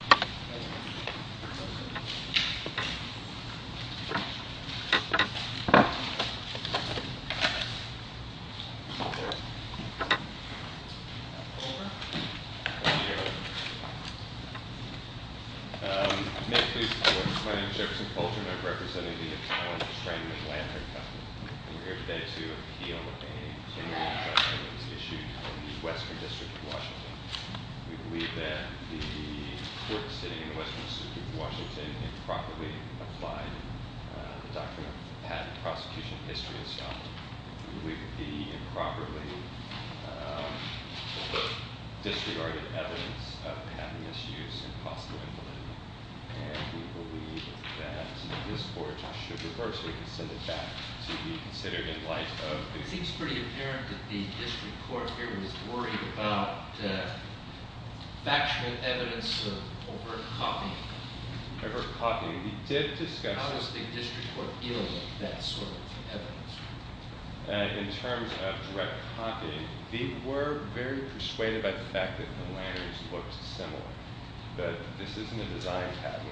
Thank you. My name is Jefferson Coltrane. I'm representing the Italian-Israeli-Atlantic couple. And we're here today to appeal a case that was issued in the western district of Washington. The court sitting in the western district of Washington improperly applied the doctrine of patent prosecution history itself. We believe it to be improperly or disregarded evidence of patent misuse and possible implementment. And we believe that this court should reverse it and send it back to be considered in light of… It seems pretty apparent that the district court here was worried about factual evidence of overt copying. Overt copying. We did discuss… How was the district court dealing with that sort of evidence? In terms of direct copying, we were very persuaded by the fact that the letters looked similar. But this isn't a design patent.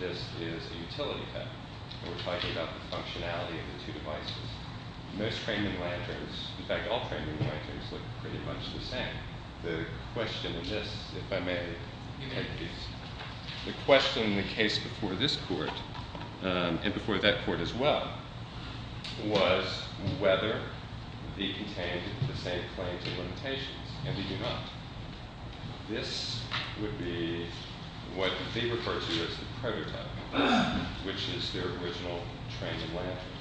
This is a utility patent. We're talking about the functionality of the two devices. Most training lanterns, in fact all training lanterns, look pretty much the same. The question in this, if I may… The question in the case before this court, and before that court as well, was whether they contained the same claims and limitations. And they do not. This would be what they refer to as the prototype, which is their original training lantern,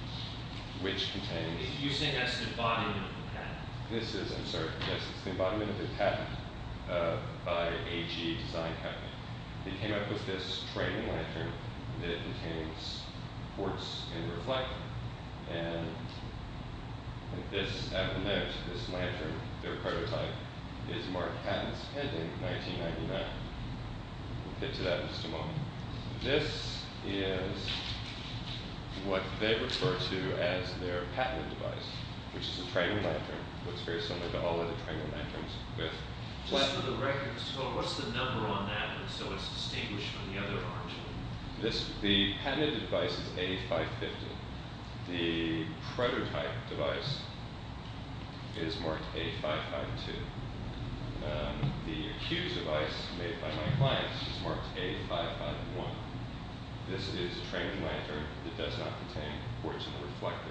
which contains… You're saying that's the embodiment of the patent? This is, I'm sorry. Yes, it's the embodiment of the patent by H.E. Design Capital. They came up with this training lantern that contains quartz and reflect. And this, I will note, this lantern, their prototype, is marked patents pending 1999. We'll get to that in just a moment. This is what they refer to as their patented device, which is a training lantern. It looks very similar to all other training lanterns. Just for the record, what's the number on that, so it's distinguished from the other ones? The patented device is A550. The prototype device is marked A552. The accused device, made by my clients, is marked A551. This is a training lantern that does not contain quartz and reflect,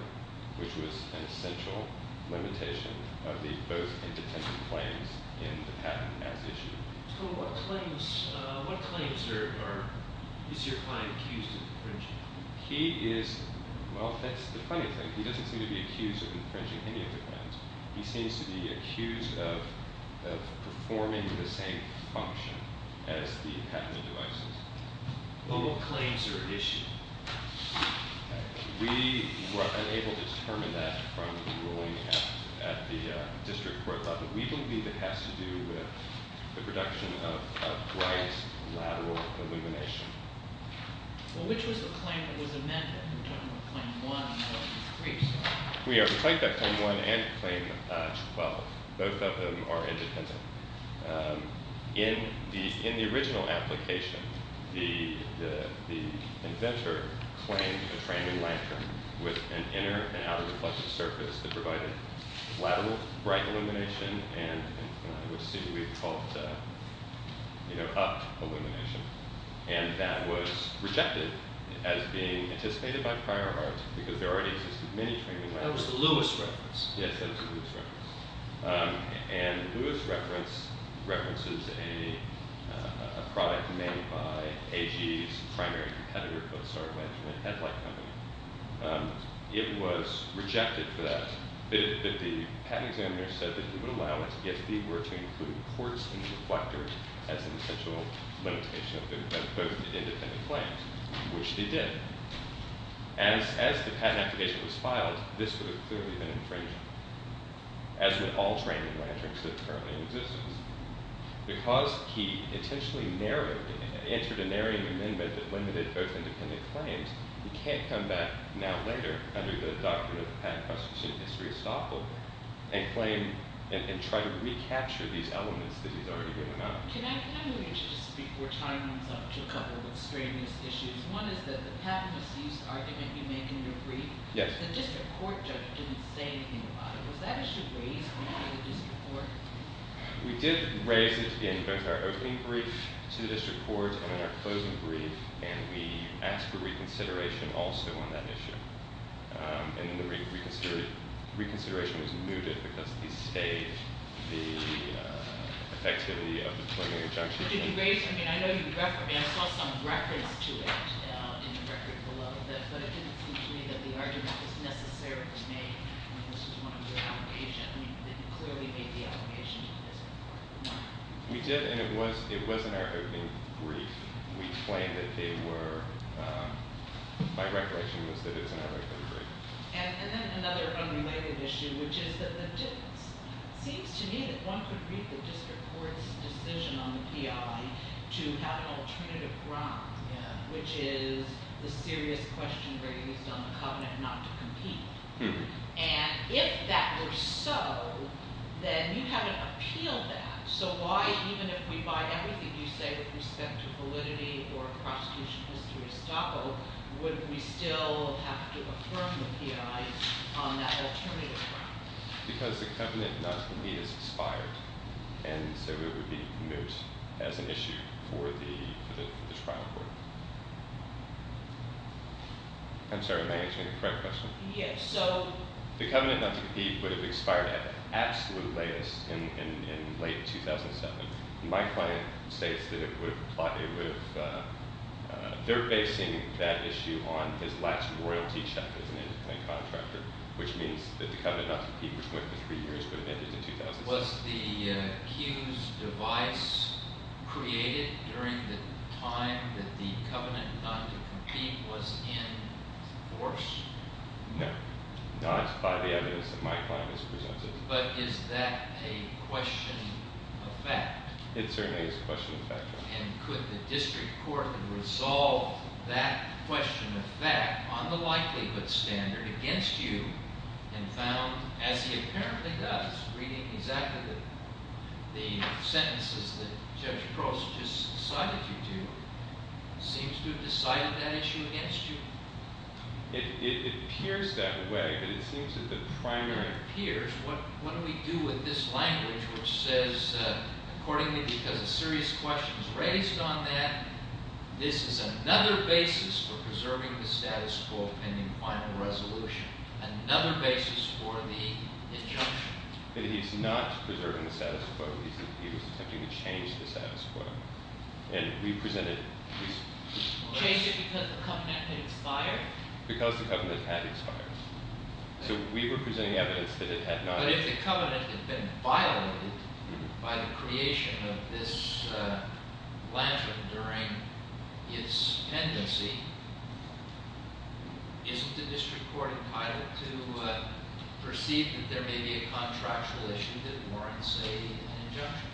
which was an essential limitation of the both independent claims in the patent as issued. What claims are, is your client accused of infringing? He is, well, that's the funny thing. He doesn't seem to be accused of infringing any of the claims. He seems to be accused of performing the same function as the patented devices. Well, what claims are issued? We were unable to determine that from the ruling at the district court level. We believe it has to do with the production of bright, lateral illumination. Well, which was the claim that was amended? Claim one or three? We claimed that claim one and claim 12. Both of them are independent. In the original application, the inventor claimed a training lantern with an inner and outer reflective surface that provided lateral bright illumination and, as we've seen, we've called, you know, up illumination. And that was rejected as being anticipated by prior arts because there already existed many training lanterns. That was the Lewis reference. Yes, that was the Lewis reference. And the Lewis reference references a product made by AG's primary competitor, a headlight company. It was rejected for that. The patent examiner said that he would allow it if they were to include quartz in the reflector as an essential limitation of both independent claims, which they did. As the patent application was filed, this would have clearly been infringed on. As with all training lanterns that are currently in existence. Because he intentionally entered a narrowing amendment that limited both independent claims, he can't come back now later under the doctrine of patent prosecution history estoppel and claim and try to recapture these elements that he's already given up. Can I move you to speak before time runs up to a couple of extraneous issues? One is that the patent misuse argument you make in your brief, the district court judge didn't say anything about it. Was that issue raised in the district court? We did raise it in both our opening brief to the district court and in our closing brief. And we asked for reconsideration also on that issue. And then the reconsideration was mooted because of the state, the effectivity of the 20th injunction. I saw some reference to it in the record below. But it didn't seem to me that the argument was necessary to make when this was one of your applications. I mean, you clearly made the allegation to the district court. We did, and it was in our opening brief. We claimed that they were. My recollection was that it was in our opening brief. And then another unrelated issue, which is that the difference. It seems to me that one could read the district court's decision on the PI to have an alternative ground, which is the serious question raised on the covenant not to compete. And if that were so, then you have to appeal that. So why, even if we buy everything you say with respect to validity or prosecution history of Staco, would we still have to affirm the PI on that alternative ground? Because the covenant not to compete is expired. And so it would be moot as an issue for the trial court. I'm sorry, am I answering the correct question? Yes. So the covenant not to compete would have expired at the absolute latest in late 2007. My client states that it would have – they're basing that issue on his last royalty check as an independent contractor, which means that the covenant not to compete, which went for three years, would have ended in 2007. Was the Q's device created during the time that the covenant not to compete was in force? No. Not by the evidence that my client has presented. But is that a question of fact? It certainly is a question of fact. And could the district court have resolved that question of fact on the likelihood standard against you and found, as he apparently does, reading exactly the sentences that Judge Cross just cited you to, seems to have decided that issue against you? It appears that way, but it seems that the primary – It appears. What do we do with this language which says, accordingly, because a serious question is raised on that, this is another basis for preserving the status quo pending final resolution. Another basis for the injunction. But he's not preserving the status quo. He was attempting to change the status quo. And we presented – Change it because the covenant had expired? Because the covenant had expired. So we were presenting evidence that it had not – But if the covenant had been violated by the creation of this lantern during its pendency, isn't the district court entitled to perceive that there may be a contractual issue that warrants an injunction?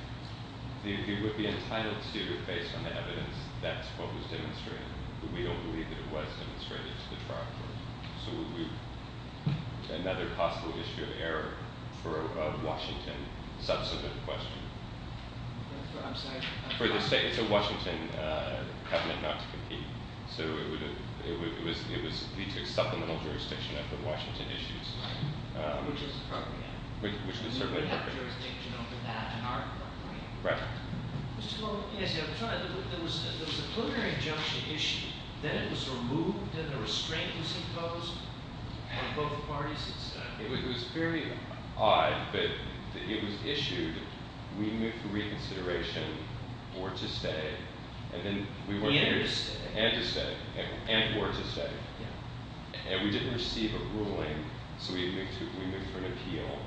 It would be entitled to, based on the evidence, that's what was demonstrated. We don't believe that it was demonstrated to the trial court. So would we – another possible issue of error for a Washington substantive question. I'm sorry. It's a Washington covenant not to compete. So it would lead to a supplemental jurisdiction of the Washington issues. Right, which is appropriate. We would have jurisdiction over that in our court. Right. Mr. Lowe, there was a preliminary injunction issued. Then it was removed and a restraint was imposed on both parties. It was very odd, but it was issued. We moved for reconsideration or to stay. And to stay. And to stay. And or to stay. And we didn't receive a ruling, so we moved for an appeal.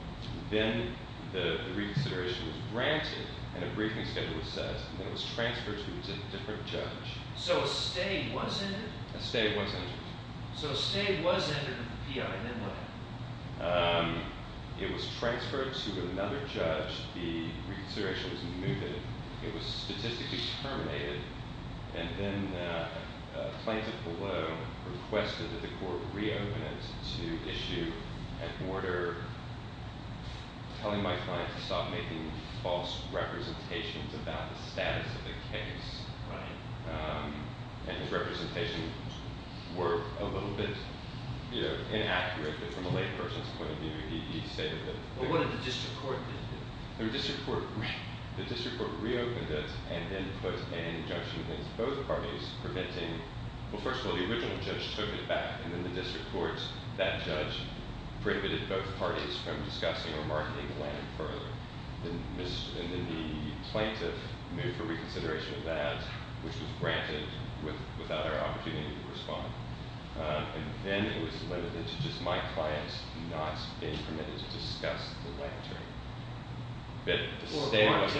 Then the reconsideration was granted and a briefing schedule was set. Then it was transferred to a different judge. So a stay was ended? A stay was ended. So a stay was ended with an appeal, and then what happened? It was transferred to another judge. The reconsideration was moved. It was statistically terminated. And then a plaintiff below requested that the court reopen it to issue an order telling my client to stop making false representations about the status of the case. Right. And his representations were a little bit, you know, inaccurate. But from a layperson's point of view, he stated that. What did the district court do? The district court reopened it and then put an injunction against both parties preventing. Well, first of all, the original judge took it back. And then the district court, that judge, prohibited both parties from discussing or marketing the land further. And then the plaintiff moved for reconsideration of that, which was granted without our opportunity to respond. And then it was limited to just my client not being permitted to discuss the land term. But the stay was.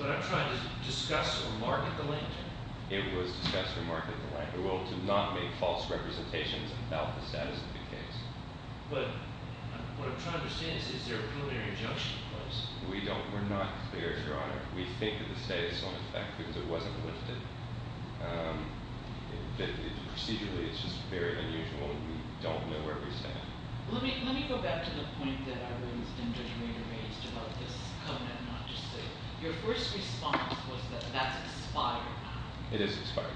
But I'm trying to discuss or market the land term. It was discussed or marketed the land term. Well, to not make false representations about the status of the case. But what I'm trying to understand is, is there a preliminary injunction in place? We don't. We're not clear, Your Honor. We think that the stay is still in effect because it wasn't lifted. Procedurally, it's just very unusual. We don't know where we stand. Let me go back to the point that Irene and Judge Maynard raised about this covenant not just stay. Your first response was that that's expired now. It is expired.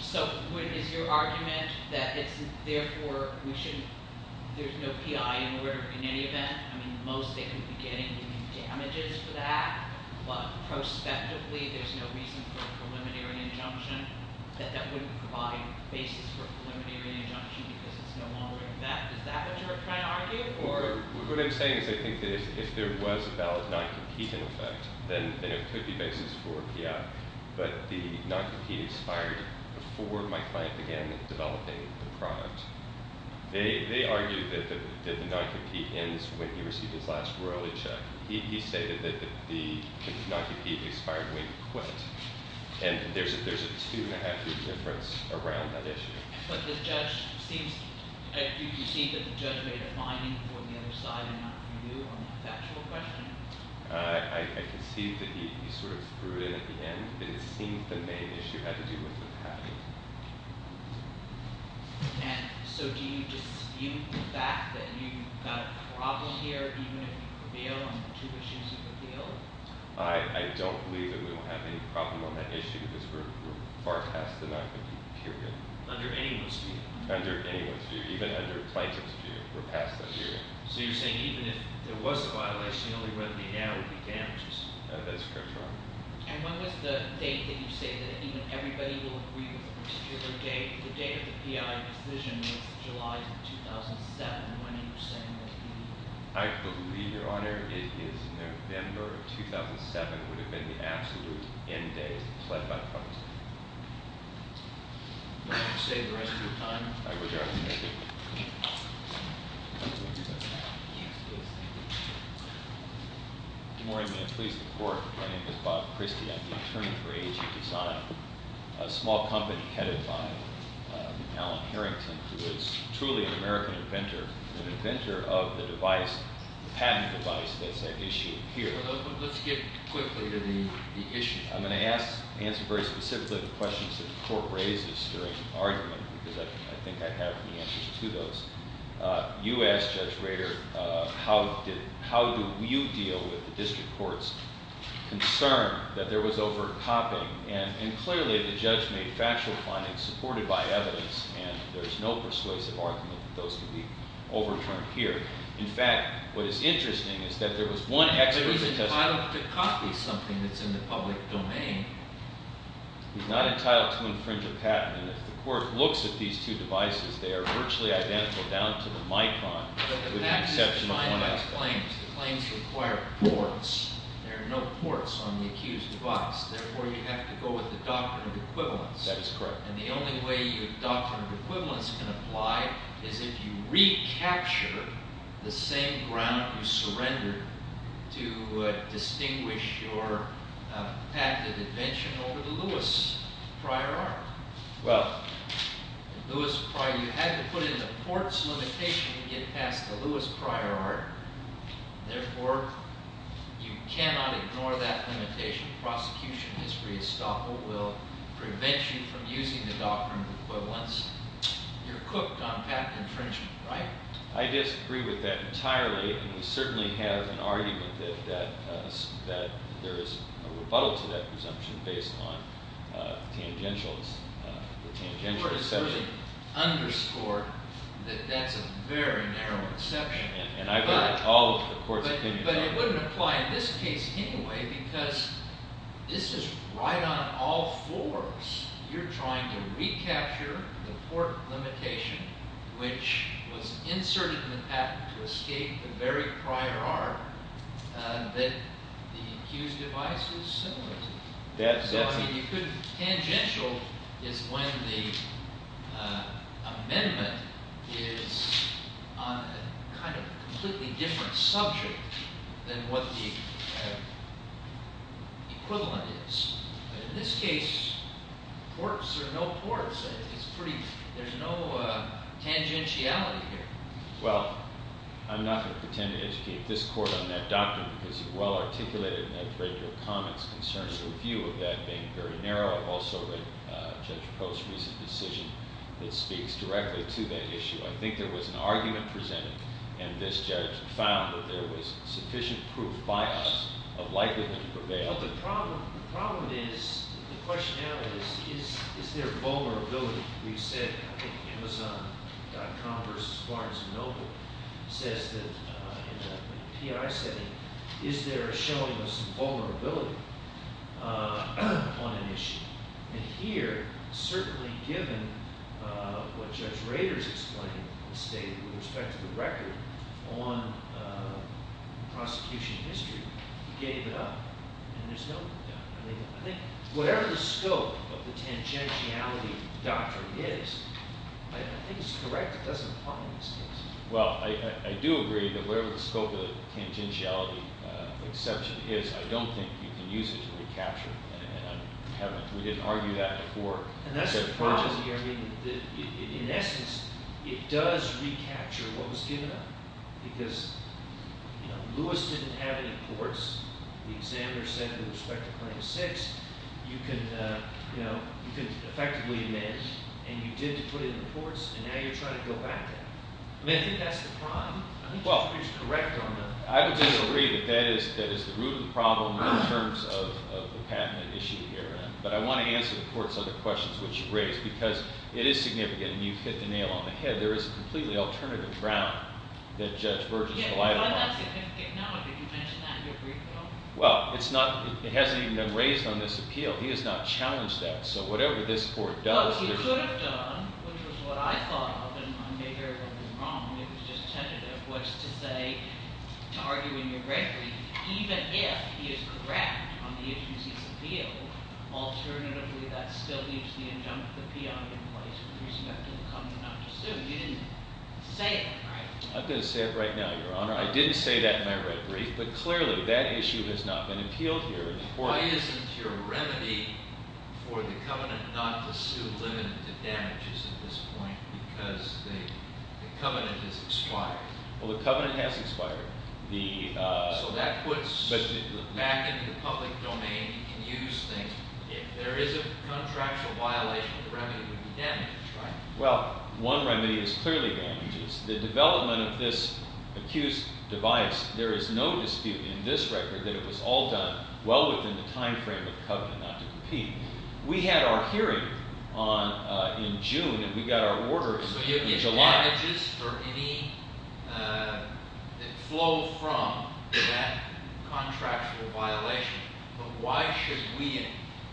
So is your argument that it's therefore we shouldn't – there's no P.I. in order in any event? I mean, the most they could be getting would be damages for that. But prospectively, there's no reason for a preliminary injunction that that wouldn't provide basis for a preliminary injunction because it's no longer in effect. Is that what you're trying to argue? What I'm saying is I think that if there was a valid non-compete in effect, then it could be basis for a P.I. But the non-compete expired before my client began developing the product. They argued that the non-compete ends when he received his last royalty check. He stated that the non-compete expired when he quit. And there's a two-and-a-half-year difference around that issue. But the judge seems – do you concede that the judge made a finding for the other side and not for you on the factual question? I concede that he sort of threw it at the end, but it seems the main issue had to do with the patent. And so do you dispute the fact that you've got a problem here even if you prevail on the two issues of appeal? I don't believe that we will have any problem on that issue because we're far past the 90-day period. Under anyone's view? Under anyone's view, even under a plaintiff's view. We're past that period. So you're saying even if there was a violation, the only remedy now would be damages? That's correct, Your Honor. And when was the date that you say that even everybody will agree with a particular date? The date of the P.I. decision was July of 2007 when you were saying that he – I believe, Your Honor, it is November of 2007 would have been the absolute end date pled by the public. Do you want to stay the rest of your time? I would, Your Honor. Thank you. Good morning. May I please report my name is Bob Christie. I'm the attorney for AG Design, a small company headed by Alan Harrington, who is truly an American inventor, an inventor of the device, the patent device that's at issue here. Let's get quickly to the issue. I'm going to ask – answer very specifically the questions that the court raises during the argument because I think I have the answers to those. You asked, Judge Rader, how do you deal with the district court's concern that there was over-copying? And clearly, the judge made factual findings supported by evidence, and there's no persuasive argument that those can be overturned here. In fact, what is interesting is that there was one expert who testified – He's not entitled to infringe a patent. And if the court looks at these two devices, they are virtually identical down to the micron. But the patent is defined by its claims. The claims require ports. There are no ports on the accused device. Therefore, you have to go with the doctrine of equivalence. That is correct. And the only way your doctrine of equivalence can apply is if you recapture the same ground you surrendered to distinguish your patent invention over the Lewis prior art. Well – The Lewis prior – you had to put in the ports limitation to get past the Lewis prior art. Therefore, you cannot ignore that limitation. Prosecution history estoppel will prevent you from using the doctrine of equivalence. You're cooked on patent infringement, right? I disagree with that entirely. And we certainly have an argument that there is a rebuttal to that presumption based on tangential – The court has already underscored that that's a very narrow exception. And I've heard all of the court's opinions on that. But it wouldn't apply in this case anyway because this is right on all fours. You're trying to recapture the port limitation, which was inserted in the patent to escape the very prior art that the accused device was similar to. So, I mean, you could – tangential is when the amendment is on a kind of completely different subject than what the equivalent is. In this case, ports are no ports. It's pretty – there's no tangentiality here. Well, I'm not going to pretend to educate this court on that doctrine because it's well-articulated. And I've read your comments concerning the view of that being very narrow. I've also read Judge Post's recent decision that speaks directly to that issue. I think there was an argument presented, and this judge found that there was sufficient proof by us of likelihood to prevail. Well, the problem is – the question now is, is there vulnerability? We've said – I think Amazon.com versus Barnes & Noble says that in a PI setting, is there a showing of some vulnerability on an issue? And here, certainly given what Judge Rader's explained and stated with respect to the record on prosecution history, he gave it up. And there's no – I think whatever the scope of the tangentiality doctrine is, I think it's correct. It doesn't apply in this case. Well, I do agree that whatever the scope of the tangentiality exception is, I don't think you can use it to recapture it. And I haven't – we didn't argue that before. And that's the problem here. I mean, in essence, it does recapture what was given up because Lewis didn't have any ports. The examiner said with respect to Claim 6, you can effectively amend, and you did to put in the ports, and now you're trying to go back there. I mean, I think that's the problem. I think you're correct on that. I would disagree that that is the root of the problem in terms of the patent issue here. But I want to answer the court's other questions, which you raised, because it is significant. And you've hit the nail on the head. There is a completely alternative ground that Judge Burgess collided on. Yeah, but I'm not saying he didn't know. Did you mention that in your brief at all? Well, it's not – it hasn't even been raised on this appeal. He has not challenged that. So whatever this court does – No, he could have done, which was what I thought of, and I may very well be wrong. It was just tentative, was to say – to argue in your red brief, even if he is correct on the issues he's appealed, alternatively that still leaves the injunctive appeal in place with respect to the covenant not to sue. You didn't say that, right? I'm going to say it right now, Your Honor. I didn't say that in my red brief, but clearly that issue has not been appealed here in the court. Why isn't your remedy for the covenant not to sue limited to damages at this point because the covenant has expired? Well, the covenant has expired. So that puts back into the public domain. You can use things. If there is a contractual violation, the remedy would be damage, right? Well, one remedy is clearly damages. The development of this accused device, there is no dispute in this record that it was all done well within the time frame of the covenant not to compete. We had our hearing in June, and we got our order in July. So you get damages for any flow from that contractual violation, but why should we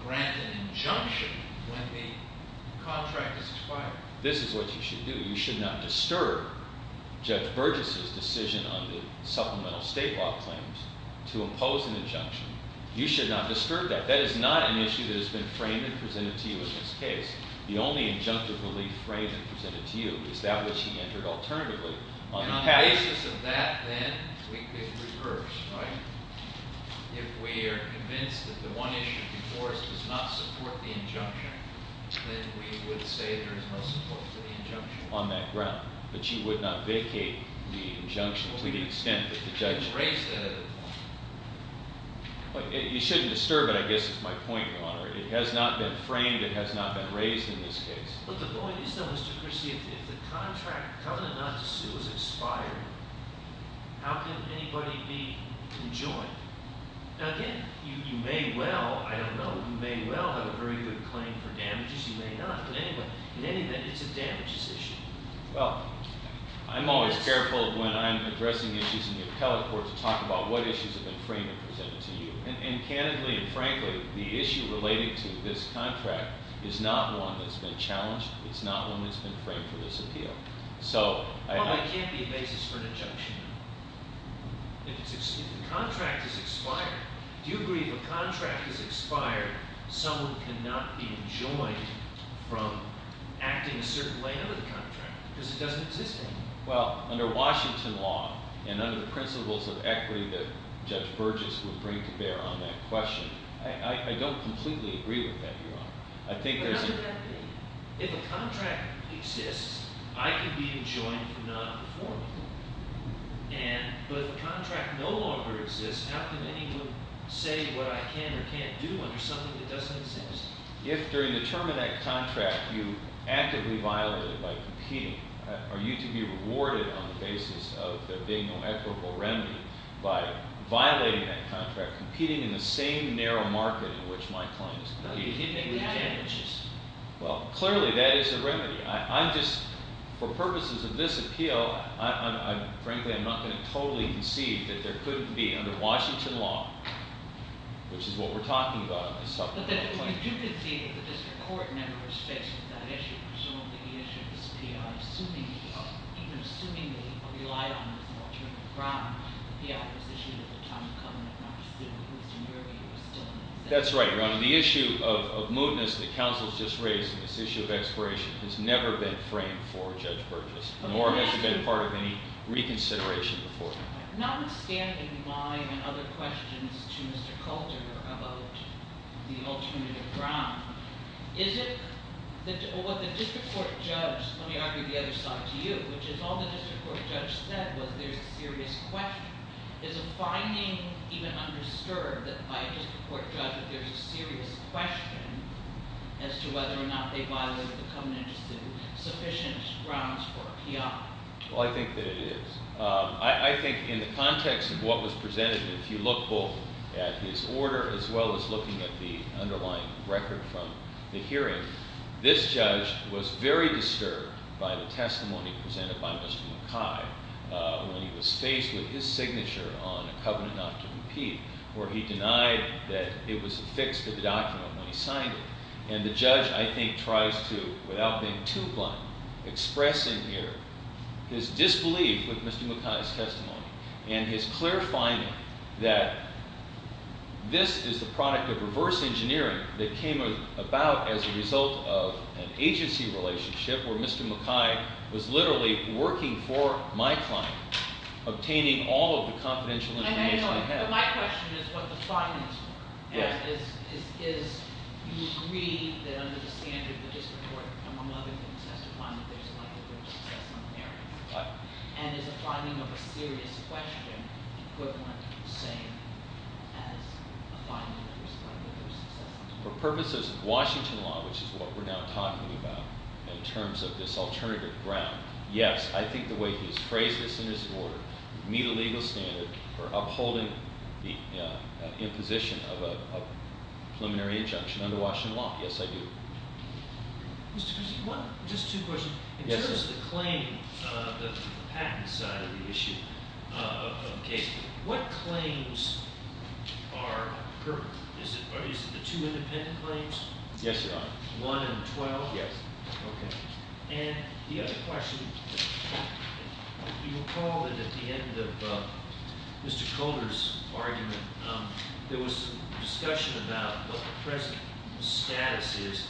grant an injunction when the contract has expired? This is what you should do. You should not disturb Judge Burgess' decision on the supplemental state law claims to impose an injunction. You should not disturb that. That is not an issue that has been framed and presented to you in this case. The only injunctive relief framed and presented to you is that which he entered alternatively. And on the basis of that, then, it recurs, right? If we are convinced that the one issue before us does not support the injunction, then we would say that there is no support for the injunction on that ground. But you would not vacate the injunction to the extent that the judge raised that at the point. You shouldn't disturb it. I guess it's my point, Your Honor. It has not been framed. It has not been raised in this case. But the point is, though, Mr. Christie, if the contract covenant not to sue is expired, how can anybody be conjoined? Now, again, you may well, I don't know, you may well have a very good claim for damages. You may not. But anyway, in any event, it's a damages issue. Well, I'm always careful when I'm addressing issues in the appellate court to talk about what issues have been framed and presented to you. And candidly and frankly, the issue relating to this contract is not one that's been challenged. It's not one that's been framed for disappeal. Well, it can't be a basis for an injunction. If the contract is expired, do you agree if a contract is expired, someone cannot be enjoined from acting a certain way under the contract because it doesn't exist anymore? Well, under Washington law and under the principles of equity that Judge Burgess would bring to bear on that question, I don't completely agree with that, Your Honor. But how could that be? If a contract exists, I can be enjoined from not performing. But if a contract no longer exists, how can anyone say what I can or can't do under something that doesn't exist? If during the term of that contract you actively violated by competing, are you to be rewarded on the basis of there being no equitable remedy by violating that contract, competing in the same narrow market in which my client is competing? Well, clearly that is a remedy. I'm just, for purposes of this appeal, I'm frankly, I'm not going to totally concede that there couldn't be under Washington law, which is what we're talking about in this supplement. But you do concede that the district court never respects that issue. Presumably, the issue of this P.I., even assuming the reliance on Mr. Archibald Brown, the P.I. was issued at the time of Covenant, not just in Houston, New York. That's right, Your Honor. The issue of mootness that counsel has just raised in this issue of expiration has never been framed for Judge Burgess, nor has it been part of any reconsideration before. Notwithstanding my and other questions to Mr. Coulter about the alternative ground, is it that what the district court judge, let me argue the other side to you, which is all the district court judge said was there's a serious question. Is the finding even undisturbed that by a district court judge that there's a serious question as to whether or not they violated the Covenant as the sufficient grounds for a P.I.? Well, I think that it is. I think in the context of what was presented, if you look both at his order as well as looking at the underlying record from the hearing, this judge was very disturbed by the testimony presented by Mr. McKay when he was faced with his signature on a Covenant not to repeat, where he denied that it was affixed to the document when he signed it. And the judge, I think, tries to, without being too blunt, expressing here his disbelief with Mr. McKay's testimony, and his clarifying that this is the product of reverse engineering that came about as a result of an agency relationship where Mr. McKay was literally working for my client, obtaining all of the confidential information he had. But my question is what the findings were. Is you agree that under the standard of the district court, among other things, has to find that there's a likelihood of success on the area? And is the finding of a serious question equivalent to the same as a finding that there's a likelihood of success on the area? For purposes of Washington law, which is what we're now talking about in terms of this alternative ground, yes. I think the way he's phrased this in his order, meet a legal standard for upholding the imposition of a preliminary injunction under Washington law, yes, I do. Mr. Cusick, just two questions. Yes, sir. In terms of the claim, the patent side of the issue of McKay, what claims are, is it the two independent claims? Yes, Your Honor. One and 12? Yes. Okay. And the other question, you recall that at the end of Mr. Kohler's argument, there was a discussion about what the present status is.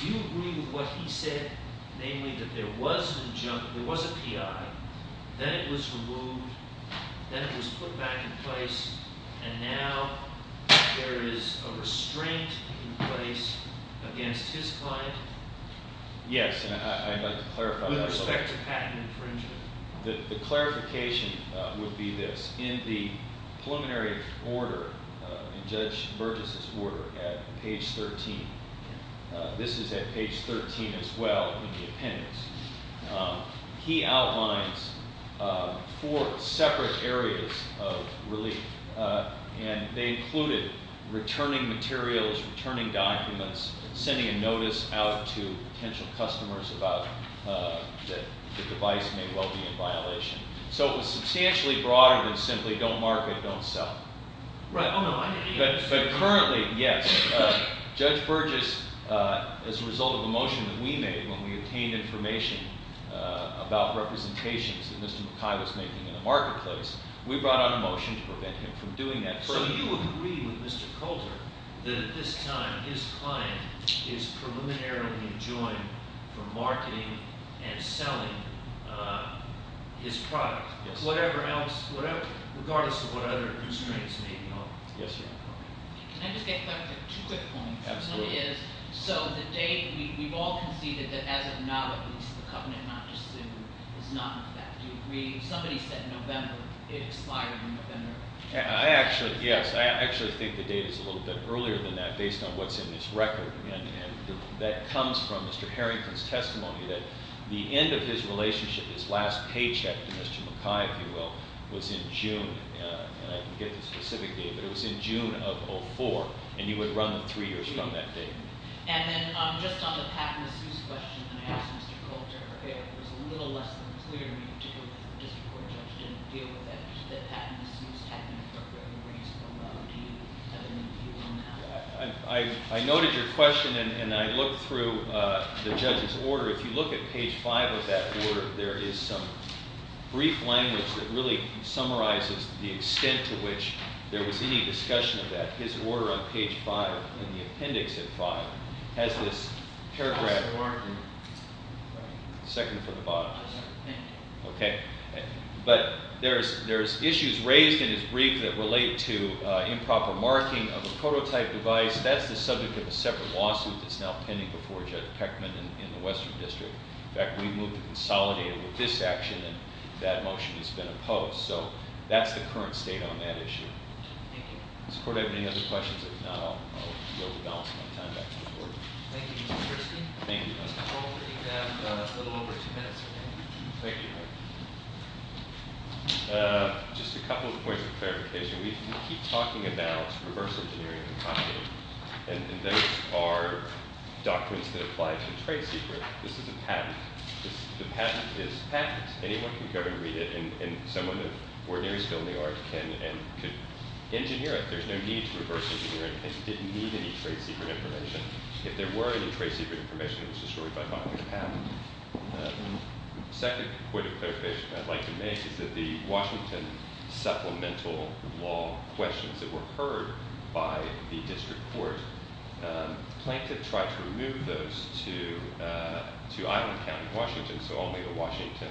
Do you agree with what he said, namely that there was an injunction, there was a PI, then it was removed, then it was put back in place, and now there is a restraint in place against his client? Yes, and I'd like to clarify that. With respect to patent infringement? The clarification would be this. In the preliminary order, in Judge Burgess's order at page 13, this is at page 13 as well in the appendix, he outlines four separate areas of relief, and they included returning materials, returning documents, sending a notice out to potential customers about the device may well be in violation. So it was substantially broader than simply don't market, don't sell. Right. But currently, yes. Judge Burgess, as a result of a motion that we made when we obtained information about representations that Mr. McKay was making in the marketplace, we brought out a motion to prevent him from doing that further. So you agree with Mr. Kohler that at this time his client is preliminarily enjoined from marketing and selling his product? Yes. Whatever else, regardless of what other constraints may be on it? Yes, Your Honor. Can I just get two quick points? Absolutely. One is, so the date, we've all conceded that as of now, at least, the covenant not to sue is not in effect. Do you agree? Somebody said November. It expired in November. I actually, yes. I actually think the date is a little bit earlier than that based on what's in this record. And that comes from Mr. Harrington's testimony that the end of his relationship, his last paycheck to Mr. McKay, if you will, was in June. And I can get the specific date. But it was in June of 2004. And you would run three years from that date. And then just on the patent assumption question that I asked Mr. Kohler, it was a little less than three. We didn't need to go to the district court judge to deal with that. The patent assumes technically a reasonable amount. Do you have any view on that? I noted your question, and I looked through the judge's order. If you look at page 5 of that order, there is some brief language that really summarizes the extent to which there was any discussion of that. His order on page 5 in the appendix of 5 has this paragraph. Second from the bottom. Okay. But there's issues raised in his brief that relate to improper marking of a prototype device. That's the subject of a separate lawsuit that's now pending before Judge Peckman in the Western District. In fact, we moved to consolidate it with this action, and that motion has been opposed. So that's the current state on that issue. Does the court have any other questions? If not, I'll be able to balance my time back to the court. Thank you, Mr. Christie. Thank you. We have a little over two minutes remaining. Thank you. Just a couple of points of clarification. We keep talking about reverse engineering and consolidating, and those are documents that apply to a trade secret. This is a patent. The patent is patent. Anyone can go and read it, and someone with ordinary skill in the art can engineer it. There's no need to reverse engineer it. It didn't need any trade secret information. If there were any trade secret information, it was destroyed by filing a patent. The second point of clarification I'd like to make is that the Washington supplemental law questions that were heard by the district court, Plankton tried to remove those to Island County, Washington, so only the Washington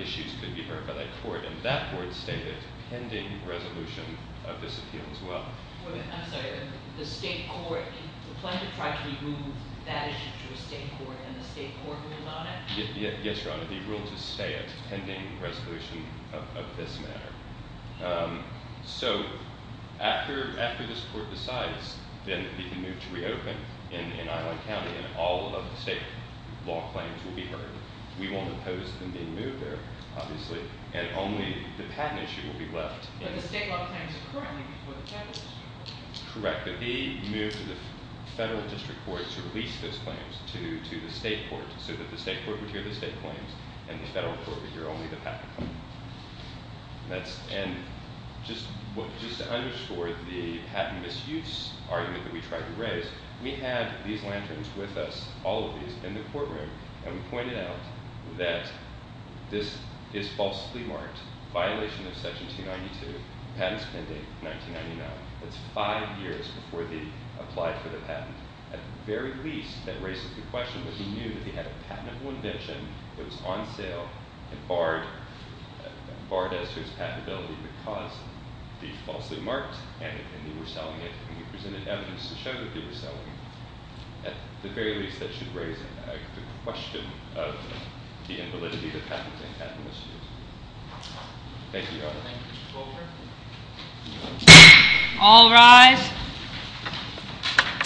issues could be heard by that court, and that court stated a pending resolution of this appeal as well. I'm sorry. The state court, Plankton tried to remove that issue to a state court, and the state court ruled on it? Yes, Your Honor. The rule to stay a pending resolution of this matter. So after this court decides, then it can be moved to reopen in Island County, and all of the state law claims will be heard. We won't oppose them being moved there, obviously, and only the patent issue will be left. But the state law claims are currently before the federal district court. Correct, but he moved to the federal district court to release those claims to the state court, so that the state court would hear the state claims, and the federal court would hear only the patent claims. And just to underscore the patent misuse argument that we tried to raise, we had these lanterns with us, all of these, in the courtroom, and we pointed out that this is falsely marked, violation of Section 292, patents pending, 1999. That's five years before they applied for the patent. At the very least, that raises the question that he knew that they had a patentable invention, it was on sale, and barred as to its patentability because they falsely marked it, and they were selling it, and we presented evidence to show that they were selling it. At the very least, that should raise the question of the invalidity of patents and patent misuse. Thank you, Your Honor. All rise.